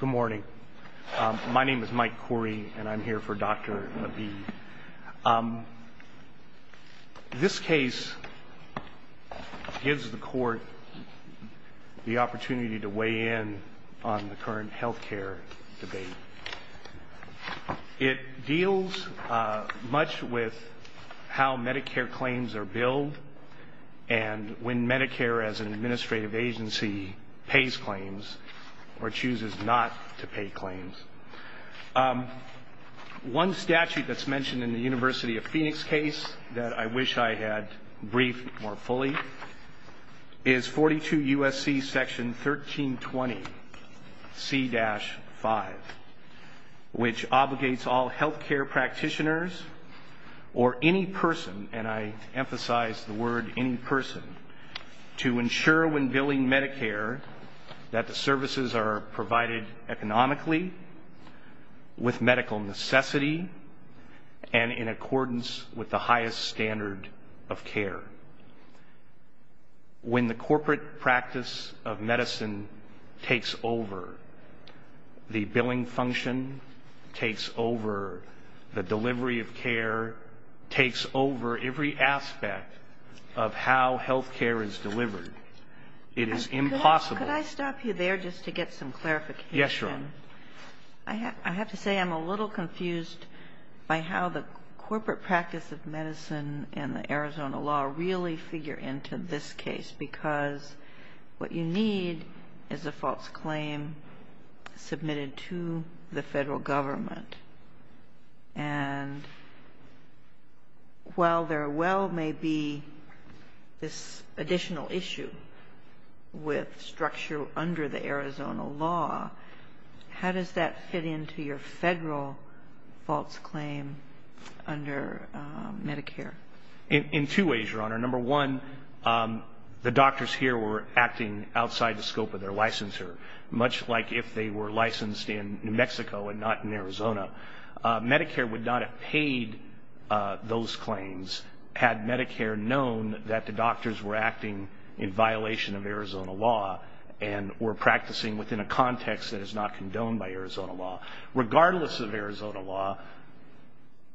Good morning. My name is Mike Khoury and I'm here for Dr. Ebeid. This case gives the court the opportunity to weigh in on the current health care debate. It deals much with how Medicare claims are billed and when Medicare as an administrative agency pays claims or chooses not to pay claims. One statute that's mentioned in the University of Phoenix case that I wish I had briefed more fully is 42 U.S.C. Section 1320 C-5, which obligates all health care practitioners or any person, and I emphasize the word any person, to ensure when billing Medicare that the services are provided economically, with medical necessity, and in accordance with the highest standard of care. When the corporate practice of medicine takes over, the billing function takes over, the delivery of care takes over every aspect of how health care is delivered. It is impossible. Could I stop you there just to get some clarification? Yes, Your Honor. I have to say I'm a little confused by how the corporate practice of medicine and the Arizona law really figure into this case, because what you need is a false claim submitted to the federal government, and while there well may be this additional issue with structure under the Arizona law, how does that fit into your federal false claim under Medicare? In two ways, Your Honor. Number one, the doctors here were acting outside the scope of their licensure, much like if they were licensed in New Mexico and not in Arizona. Medicare would not have paid those claims had Medicare known that the doctors were acting in violation of Arizona law and were practicing within a context that is not condoned by Arizona law. Regardless of Arizona law,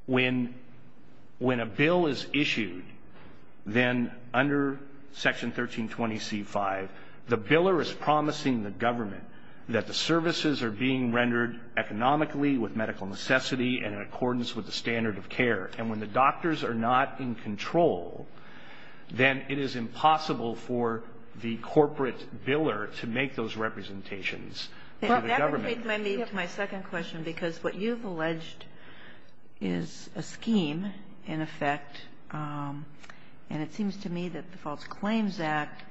when a bill is issued, then under Section 1320C5, the biller is promising the government that the services are being rendered economically, with medical necessity, and in accordance with the standard of care. And when the doctors are not in control, then it is impossible for the corporate biller to make those representations to the government. Kagan. And that brings me to my second question, because what you've alleged is a scheme, in effect, and it seems to me that the False Claims Act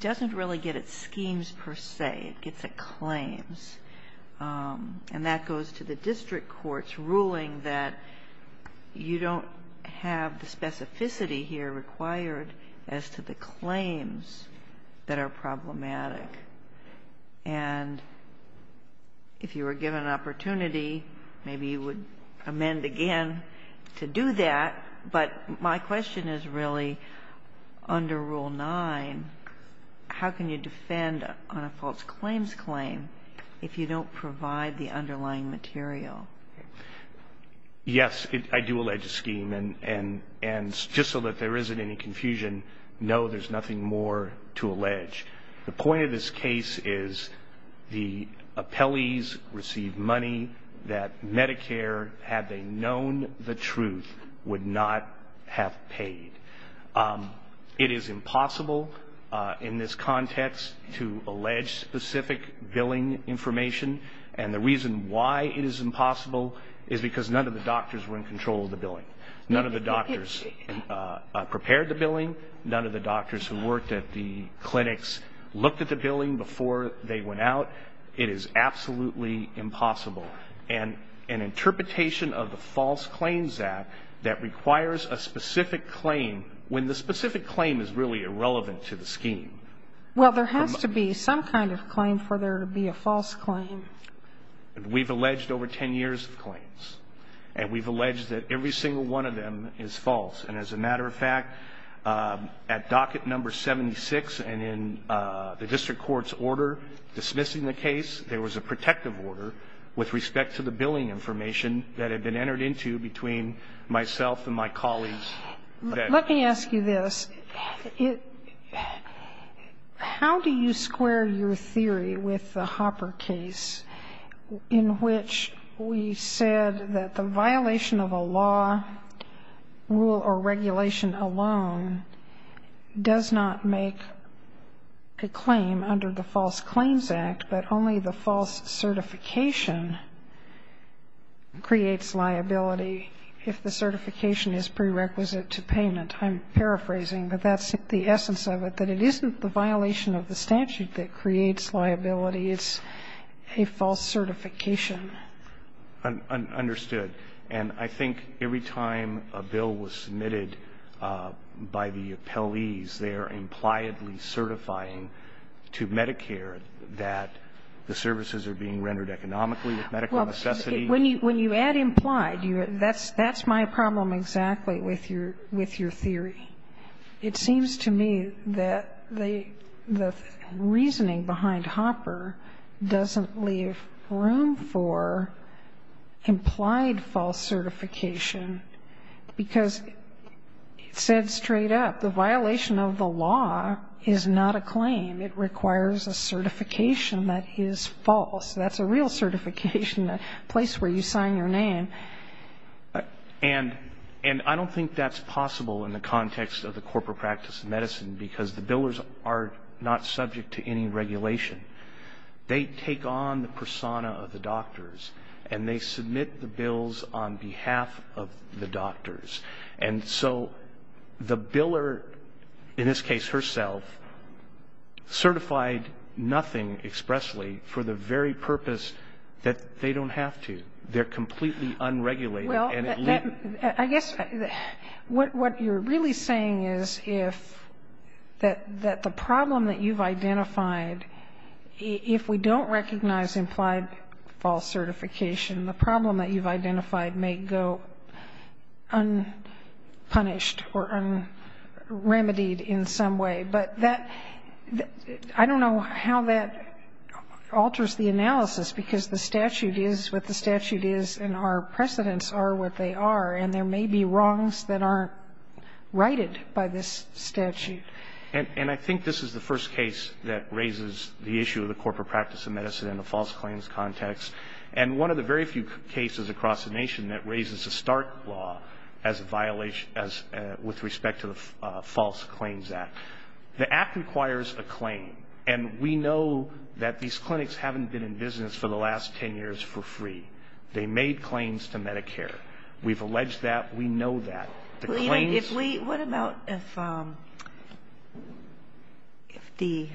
doesn't really get at schemes, per se, it gets at claims, and that goes to the district court's ruling that you don't have the specificity here required as to the claims that are problematic. And if you were given an opportunity, maybe you would amend again to do that. But my question is really under Rule 9, how can you defend on a false claims claim if you don't provide the underlying material? Yes, I do allege a scheme. And just so that there isn't any confusion, no, there's nothing more to allege. The point of this case is the appellees receive money that Medicare, had they known the truth, would not have paid. It is impossible in this context to allege specific billing information, and the reason why it is impossible is because none of the doctors were in control of the billing. None of the doctors prepared the billing. None of the doctors who worked at the clinics looked at the billing before they went out. It is absolutely impossible. And an interpretation of the False Claims Act that requires a specific claim, when the specific claim is really irrelevant to the scheme. Well, there has to be some kind of claim for there to be a false claim. We've alleged over 10 years of claims. And we've alleged that every single one of them is false. And as a matter of fact, at docket number 76 and in the district court's order dismissing the case, there was a protective order with respect to the billing information that had been entered into between myself and my colleagues. Let me ask you this. How do you square your theory with the Hopper case in which we said that the violation of a law, rule, or regulation alone does not make a claim under the False Claims Act, but only the false certification creates liability if the certification is prerequisite to payment? I'm paraphrasing, but that's the essence of it, that it isn't the violation of the statute that creates liability. It's a false certification. Understood. And I think every time a bill was submitted by the appellees, they are impliedly certifying to Medicare that the services are being rendered economically with medical necessity. When you add implied, that's my problem exactly with your theory. It seems to me that the reasoning behind Hopper doesn't leave room for implied false certification, because it said straight up the violation of the law is not a claim. It requires a certification that is false. That's a real certification, a place where you sign your name. And I don't think that's possible in the context of the corporate practice of medicine, because the billers are not subject to any regulation. They take on the persona of the doctors, and they submit the bills on behalf of the doctors. And so the biller, in this case herself, certified nothing expressly for the very purpose that they don't have to. They're completely unregulated. Well, I guess what you're really saying is if that the problem that you've identified if we don't recognize implied false certification, the problem that you've identified may go unpunished or unremitied in some way. But I don't know how that alters the analysis, because the statute is what the statute is, and our precedents are what they are. And there may be wrongs that aren't righted by this statute. And I think this is the first case that raises the issue of the corporate practice of medicine in a false claims context, and one of the very few cases across the nation that raises the Stark Law as a violation with respect to the False Claims Act. The act requires a claim, and we know that these clinics haven't been in business for the last 10 years for free. They made claims to Medicare. We've alleged that. We know that. The claims --. If the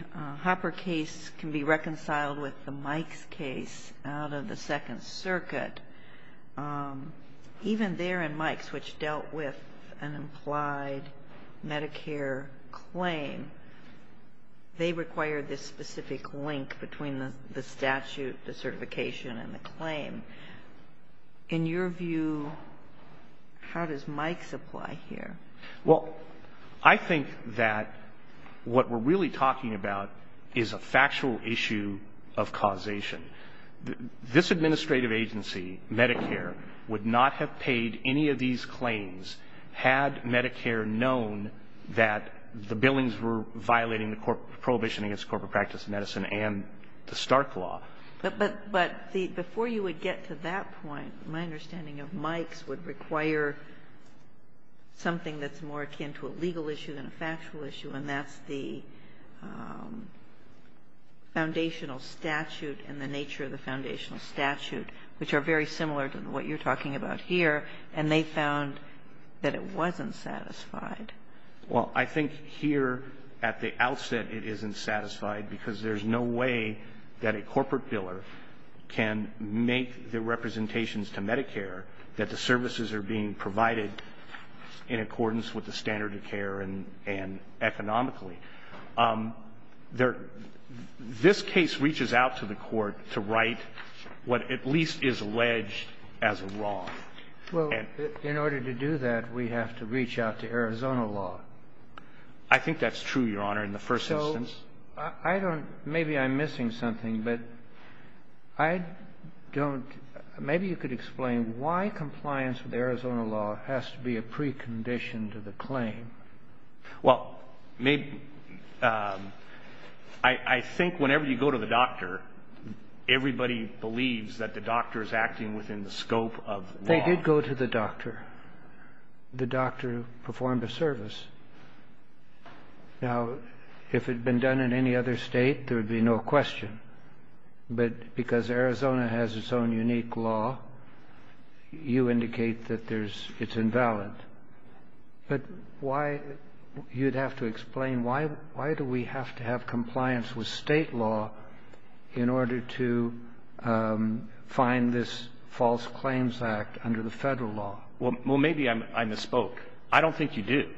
Hopper case can be reconciled with the Mikes case out of the Second Circuit, even there in Mikes, which dealt with an implied Medicare claim, they require this specific link between the statute, the certification, and the claim. In your view, how does Mikes apply here? Well, I think that what we're really talking about is a factual issue of causation. This administrative agency, Medicare, would not have paid any of these claims had Medicare known that the billings were violating the prohibition against corporate practice of medicine and the Stark Law. But before you would get to that point, my understanding of Mikes would require something that's more akin to a legal issue than a factual issue, and that's the foundational statute and the nature of the foundational statute, which are very similar to what you're talking about here, and they found that it wasn't satisfied. Well, I think here at the outset it isn't satisfied because there's no way that a corporate in accordance with the standard of care and economically. This case reaches out to the Court to write what at least is alleged as wrong. Well, in order to do that, we have to reach out to Arizona law. I think that's true, Your Honor, in the first instance. So I don't – maybe I'm missing something, but I don't – maybe you could explain why compliance with Arizona law has to be a precondition to the claim. Well, maybe – I think whenever you go to the doctor, everybody believes that the doctor is acting within the scope of law. They did go to the doctor. The doctor performed a service. Now, if it had been done in any other state, there would be no question. But because Arizona has its own unique law, you indicate that there's – it's invalid. But why – you'd have to explain why do we have to have compliance with state law in order to find this false claims act under the federal law. Well, maybe I misspoke. I don't think you do.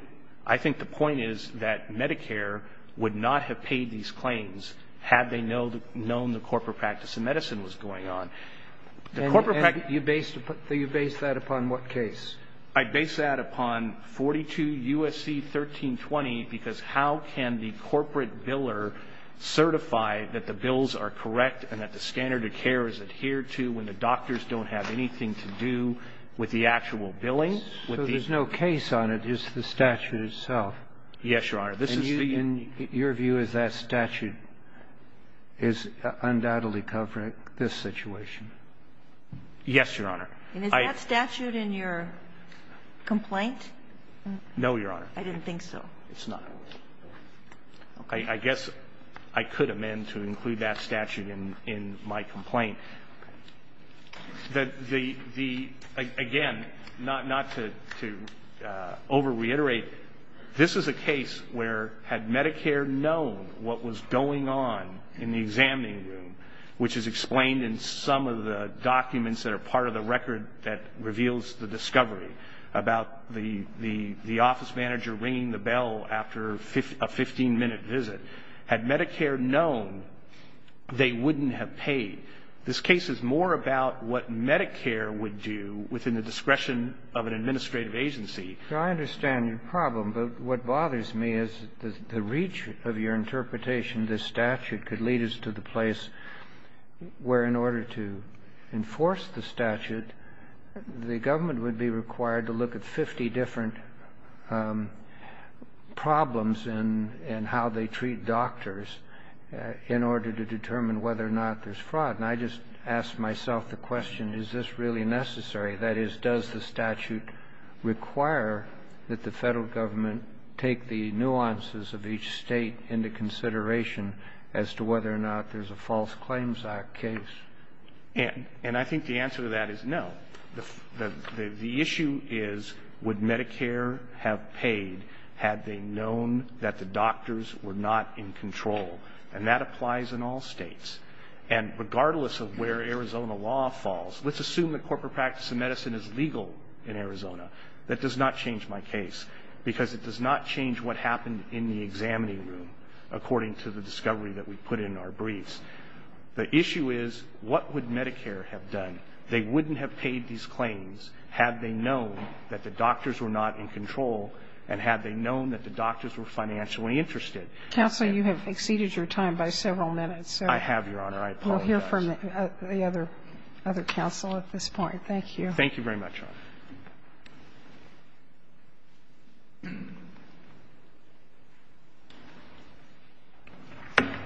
I think the point is that Medicare would not have paid these claims had they known the corporate practice of medicine was going on. The corporate practice of medicine – And you base that upon what case? I base that upon 42 U.S.C. 1320, because how can the corporate biller certify that the bills are correct and that the standard of care is adhered to when the doctors don't have anything to do with the actual billing? So there's no case on it. It's the statute itself. Yes, Your Honor. This is the – And your view is that statute is undoubtedly covering this situation? Yes, Your Honor. And is that statute in your complaint? No, Your Honor. I didn't think so. It's not. I guess I could amend to include that statute in my complaint. Again, not to over-reiterate, this is a case where had Medicare known what was going on in the examining room, which is explained in some of the documents that are part of the record that reveals the discovery about the office manager ringing the bell after a 15-minute visit, had Medicare known, they wouldn't have paid. This case is more about what Medicare would do within the discretion of an administrative agency. I understand your problem, but what bothers me is the reach of your interpretation, this statute, could lead us to the place where in order to enforce the statute, the government would be required to look at 50 different problems in how they treat doctors in order to determine whether or not there's fraud. And I just asked myself the question, is this really necessary? That is, does the statute require that the Federal Government take the nuances of each State into consideration as to whether or not there's a false claims act case? And I think the answer to that is no. The issue is, would Medicare have paid had they known that the doctors were not in control? And that applies in all States. And regardless of where Arizona law falls, let's assume that corporate practice of medicine is legal in Arizona. That does not change my case, because it does not change what happened in the examining room according to the discovery that we put in our briefs. The issue is, what would Medicare have done? They wouldn't have paid these claims had they known that the doctors were not in control and had they known that the doctors were financially interested. Counsel, you have exceeded your time by several minutes. I have, Your Honor. I apologize. We'll hear from the other counsel at this point. Thank you. Thank you very much, Your Honor.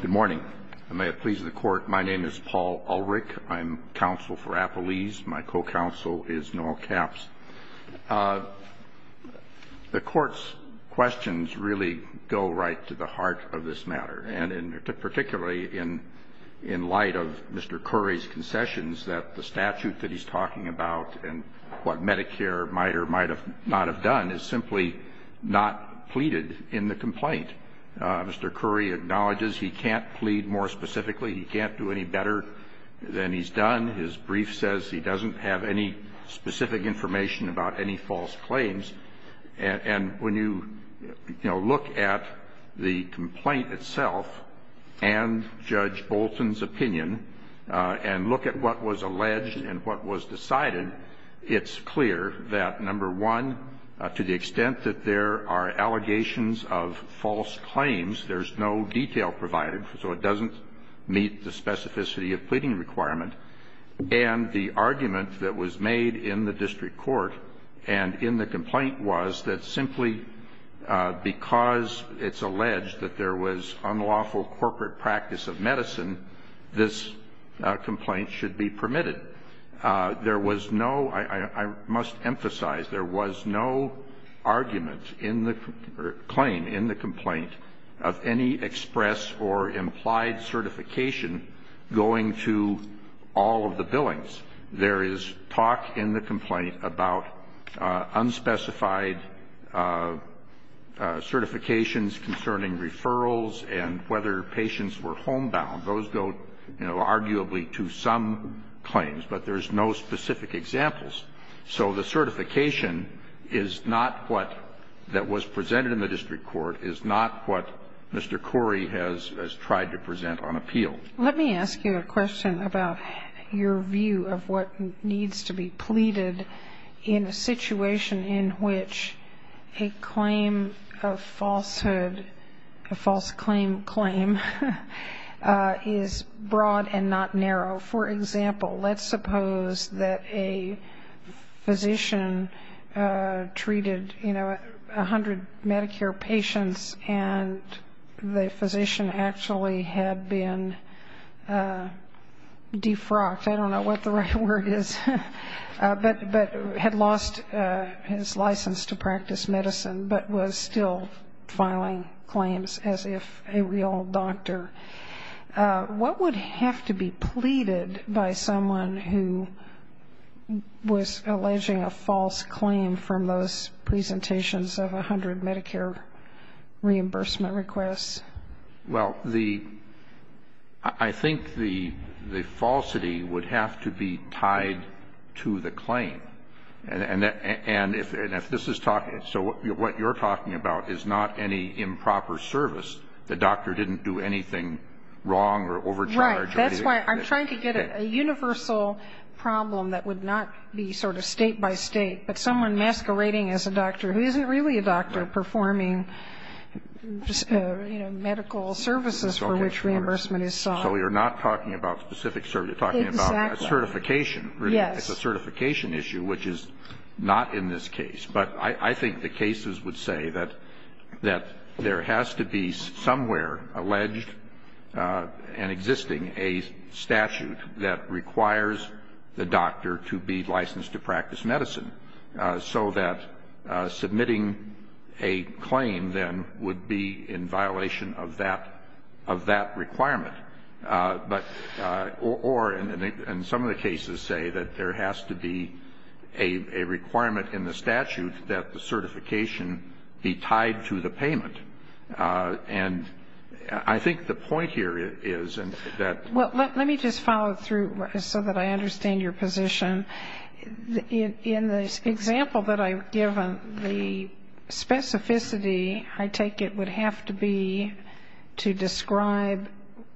Good morning. May it please the Court. My name is Paul Ulrich. I'm counsel for Appalese. My co-counsel is Noel Capps. The Court's questions really go right to the heart of this matter. And particularly in light of Mr. Curry's concessions, that the statute that he's talking about and what Medicare might or might not have done is simply not pleaded in the complaint. Mr. Curry acknowledges he can't plead more specifically. He can't do any better than he's done. His brief says he doesn't have any specific information about any false claims. And when you, you know, look at the complaint itself and Judge Bolton's opinion and look at what was alleged and what was decided, it's clear that, number one, to the extent that there are allegations of false claims, there's no detail provided, so it doesn't meet the specificity of pleading requirement. And the argument that was made in the district court and in the complaint was that simply because it's alleged that there was unlawful corporate practice of medicine, this complaint should be permitted. There was no, I must emphasize, there was no argument in the claim, in the complaint, of any express or implied certification going to all of the billings. There is talk in the complaint about unspecified certifications concerning referrals and whether patients were homebound. Those go, you know, arguably to some claims, but there's no specific examples. So the certification is not what that was presented in the district court, is not what Mr. Curry has tried to present on appeal. Let me ask you a question about your view of what needs to be pleaded in a situation in which a claim of falsehood, a false claim claim, is broad and not narrow. For example, let's suppose that a physician treated, you know, 100 Medicare patients and the physician actually had been defrocked. I don't know what the right word is, but had lost his license to practice medicine but was still filing claims as if a real doctor. What would have to be pleaded by someone who was alleging a false claim from those presentations of 100 Medicare reimbursement requests? Well, the ‑‑ I think the falsity would have to be tied to the claim. And if this is talking ‑‑ so what you're talking about is not any improper service. The doctor didn't do anything wrong or overcharge. Right. That's why I'm trying to get a universal problem that would not be sort of state by state, but someone masquerading as a doctor who isn't really a doctor performing, you know, medical services for which reimbursement is sought. So you're not talking about specific service. You're talking about certification. Yes. It's a certification issue, which is not in this case. But I think the cases would say that there has to be somewhere alleged and existing a statute that requires the doctor to be licensed to practice medicine, so that submitting a claim then would be in violation of that ‑‑ of that requirement. But ‑‑ or in some of the cases say that there has to be a requirement in the statute that the certification be tied to the payment. And I think the point here is that ‑‑ Well, let me just follow through so that I understand your position. In the example that I've given, the specificity, I take it, would have to be to describe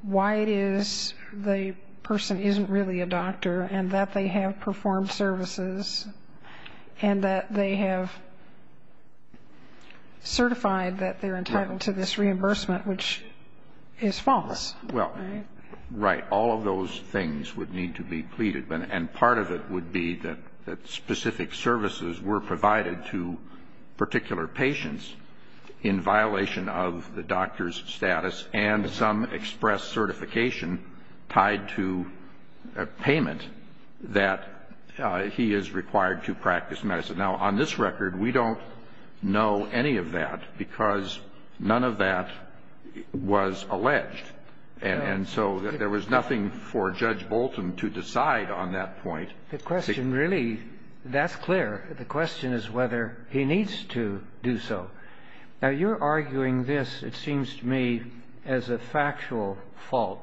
why it is the person isn't really a doctor and that they have performed services and that they have certified that they're entitled to this reimbursement, which is false, right? Well, right. All of those things would need to be pleaded. And part of it would be that specific services were provided to particular patients in violation of the doctor's status and some express certification tied to a payment that he is required to practice medicine. Now, on this record, we don't know any of that because none of that was alleged. And so there was nothing for Judge Bolton to decide on that point. The question really ‑‑ that's clear. The question is whether he needs to do so. Now, you're arguing this, it seems to me, as a factual fault.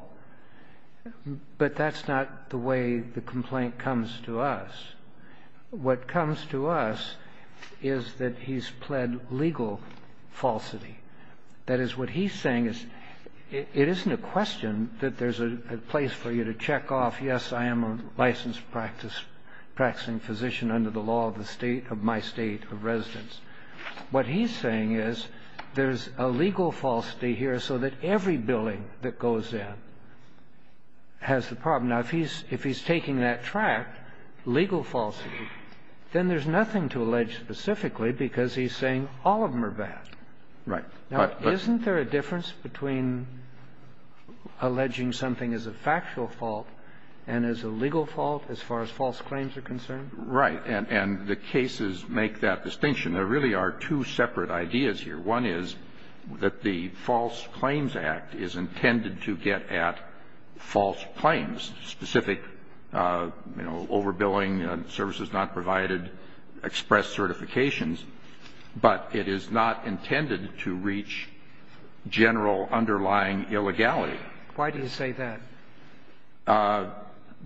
But that's not the way the complaint comes to us. What comes to us is that he's pled legal falsity. That is, what he's saying is it isn't a question that there's a place for you to check off, yes, I am a licensed practicing physician under the law of my state of residence. What he's saying is there's a legal falsity here so that every billing that goes in has the problem. Now, if he's taking that track, legal falsity, then there's nothing to allege specifically because he's saying all of them are bad. Right. Now, isn't there a difference between alleging something as a factual fault and as a legal fault as far as false claims are concerned? Right. And the cases make that distinction. There really are two separate ideas here. One is that the False Claims Act is intended to get at false claims, specific, you know, overbilling, services not provided, express certifications. But it is not intended to reach general underlying illegality. Why do you say that?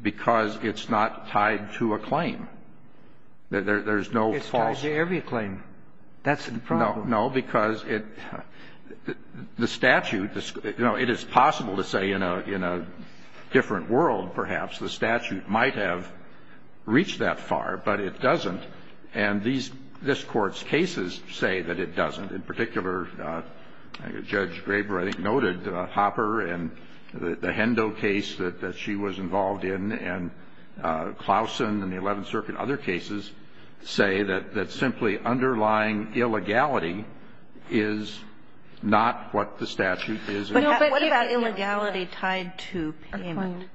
Because it's not tied to a claim. There's no false claim. It's tied to every claim. That's the problem. No. No. Because the statute, you know, it is possible to say in a different world, perhaps, the statute might have reached that far, but it doesn't. And these courts' cases say that it doesn't. In particular, Judge Graber, I think, noted Hopper and the Hendo case that she was involved in, and Clausen and the Eleventh Circuit, other cases, say that simply underlying illegality is not what the statute is. But what about illegality tied to payment?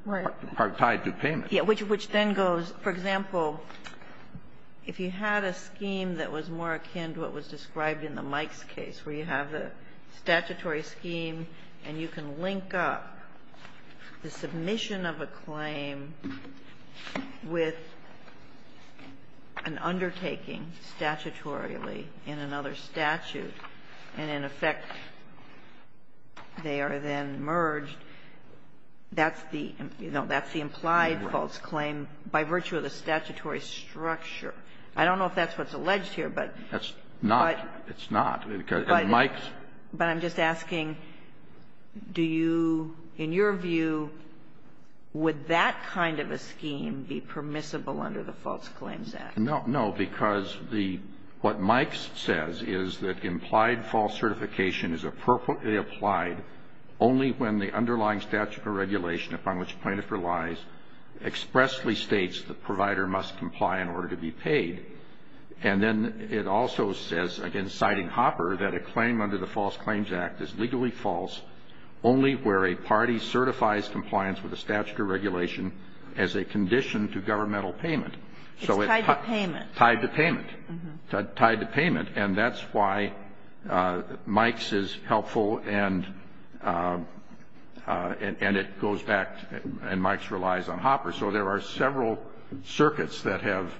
Tied to payment. Which then goes, for example, if you had a scheme that was more akin to what was described in the Mikes case, where you have a statutory scheme and you can link up the submission of a claim with an undertaking, statutorily, in another statute, and, in effect, they are then merged, that's the, you know, that's the implied false claim by virtue of the statutory structure. I don't know if that's what's alleged here, but that's not. It's not. But I'm just asking, do you, in your view, would that kind of a scheme be permissible under the False Claims Act? No. No. Because the, what Mikes says is that implied false certification is appropriately applied only when the underlying statute of regulation upon which the plaintiff relies expressly states the provider must comply in order to be paid. And then it also says, again citing Hopper, that a claim under the False Claims Act is legally false only where a party certifies compliance with a statute of regulation as a condition to governmental payment. It's tied to payment. Tied to payment. And that's why Mikes is helpful and it goes back, and Mikes relies on Hopper. So there are several circuits that have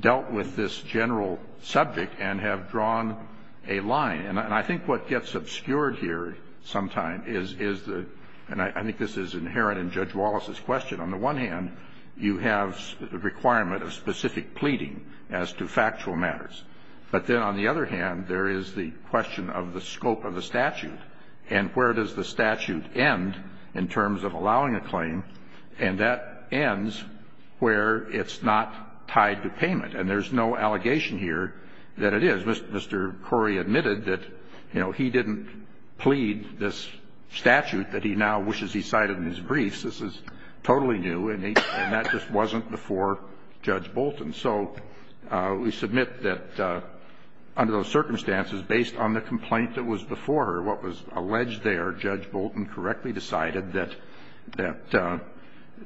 dealt with this general subject and have drawn a line. And I think what gets obscured here sometimes is the, and I think this is inherent in Judge Wallace's question, on the one hand, you have a requirement of specific pleading as to factual matters. But then on the other hand, there is the question of the scope of the statute and where does the statute end in terms of allowing a claim. And that ends where it's not tied to payment. And there's no allegation here that it is. Mr. Corey admitted that, you know, he didn't plead this statute that he now wishes he cited in his briefs. This is totally new and that just wasn't before Judge Bolton. So we submit that under those circumstances, based on the complaint that was before her, what was alleged there, Judge Bolton correctly decided that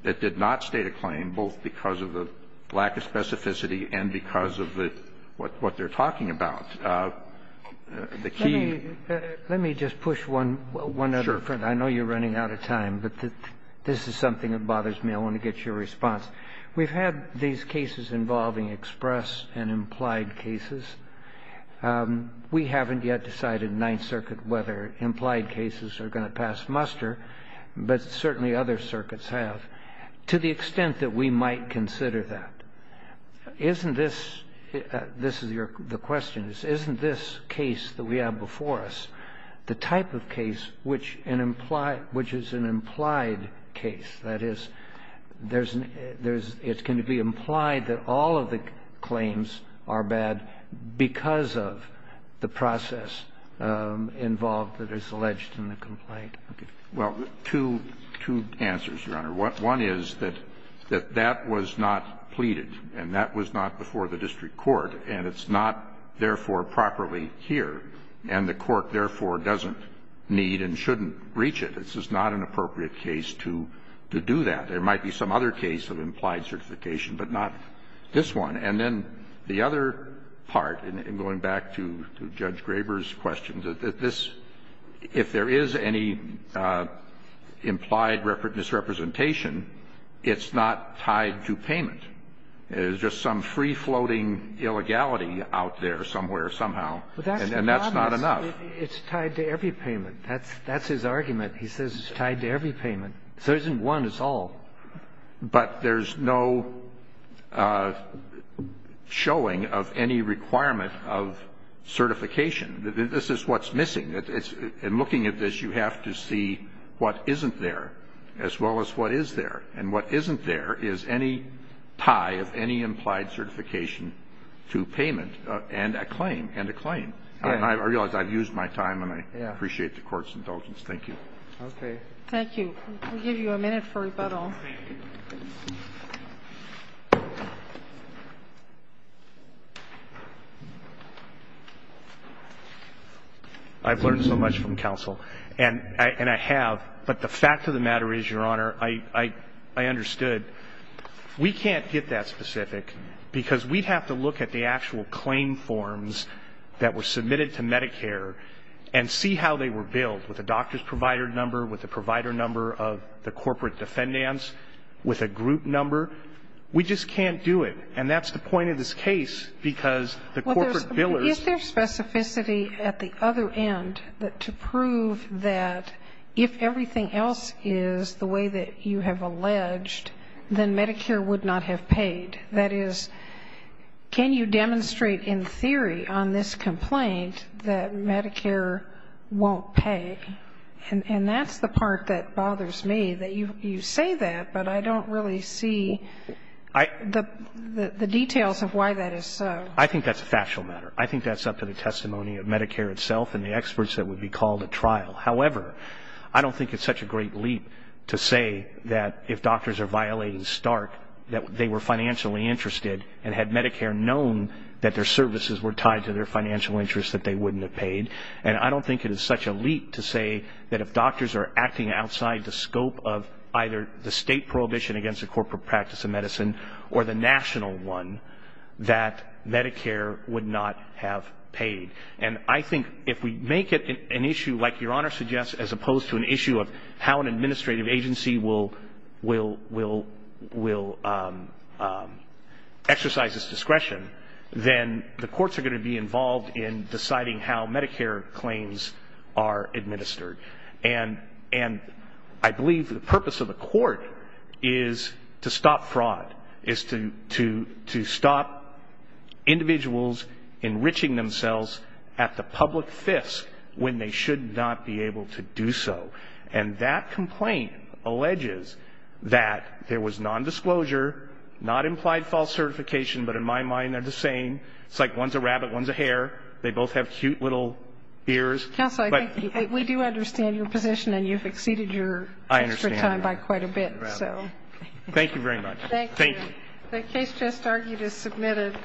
it did not state a claim, both because of the lack of specificity and because of the, what they're talking about. The key. Let me just push one other point. Sure. I know you're running out of time, but this is something that bothers me. I want to get your response. We've had these cases involving express and implied cases. We haven't yet decided in Ninth Circuit whether implied cases are going to pass muster, but certainly other circuits have, to the extent that we might consider that. Isn't this the question? Isn't this case that we have before us the type of case which is an implied case? That is, there's an – it can be implied that all of the claims are bad because of the process involved that is alleged in the complaint. Well, two answers, Your Honor. One is that that was not pleaded, and that was not before the district court, and it's not, therefore, properly here, and the court, therefore, doesn't need and shouldn't reach it. This is not an appropriate case to do that. There might be some other case of implied certification, but not this one. And then the other part, and going back to Judge Graber's question, that this, if there is any implied misrepresentation, it's not tied to payment. There's just some free-floating illegality out there somewhere, somehow, and that's not enough. It's tied to every payment. That's his argument. He says it's tied to every payment. If there isn't one, it's all. But there's no showing of any requirement of certification. This is what's missing. In looking at this, you have to see what isn't there, as well as what is there. And what isn't there is any tie of any implied certification to payment and a claim, and a claim. I realize I've used my time, and I appreciate the Court's indulgence. Thank you. Okay. Thank you. We'll give you a minute for rebuttal. Thank you. I've learned so much from counsel, and I have. But the fact of the matter is, Your Honor, I understood. We can't get that specific, because we'd have to look at the actual claim forms that with a doctor's provider number, with a provider number of the corporate defendants, with a group number. We just can't do it. And that's the point of this case, because the corporate billers ---- Is there specificity at the other end to prove that if everything else is the way that you have alleged, then Medicare would not have paid? That is, can you demonstrate in theory on this complaint that Medicare won't pay? And that's the part that bothers me, that you say that, but I don't really see the details of why that is so. I think that's a factual matter. I think that's up to the testimony of Medicare itself and the experts that would be called at trial. However, I don't think it's such a great leap to say that if doctors are violating Stark, that they were financially interested and had Medicare known that their services were tied to their financial interests, that they wouldn't have paid. And I don't think it is such a leap to say that if doctors are acting outside the scope of either the state prohibition against the corporate practice of medicine or the national one, that Medicare would not have paid. And I think if we make it an issue, like Your Honor suggests, as opposed to an issue of how an administrative agency will exercise its discretion, then the courts are going to be involved in deciding how Medicare claims are administered. And I believe the purpose of the court is to stop fraud, is to stop individuals enriching themselves at the public fisk when they should not be able to do so. And that complaint alleges that there was nondisclosure, not implied false certification. But in my mind, they're the same. It's like one's a rabbit, one's a hare. They both have cute little ears. But we do understand your position and you've exceeded your time by quite a bit. So thank you very much. Thank you. The case just argued is submitted.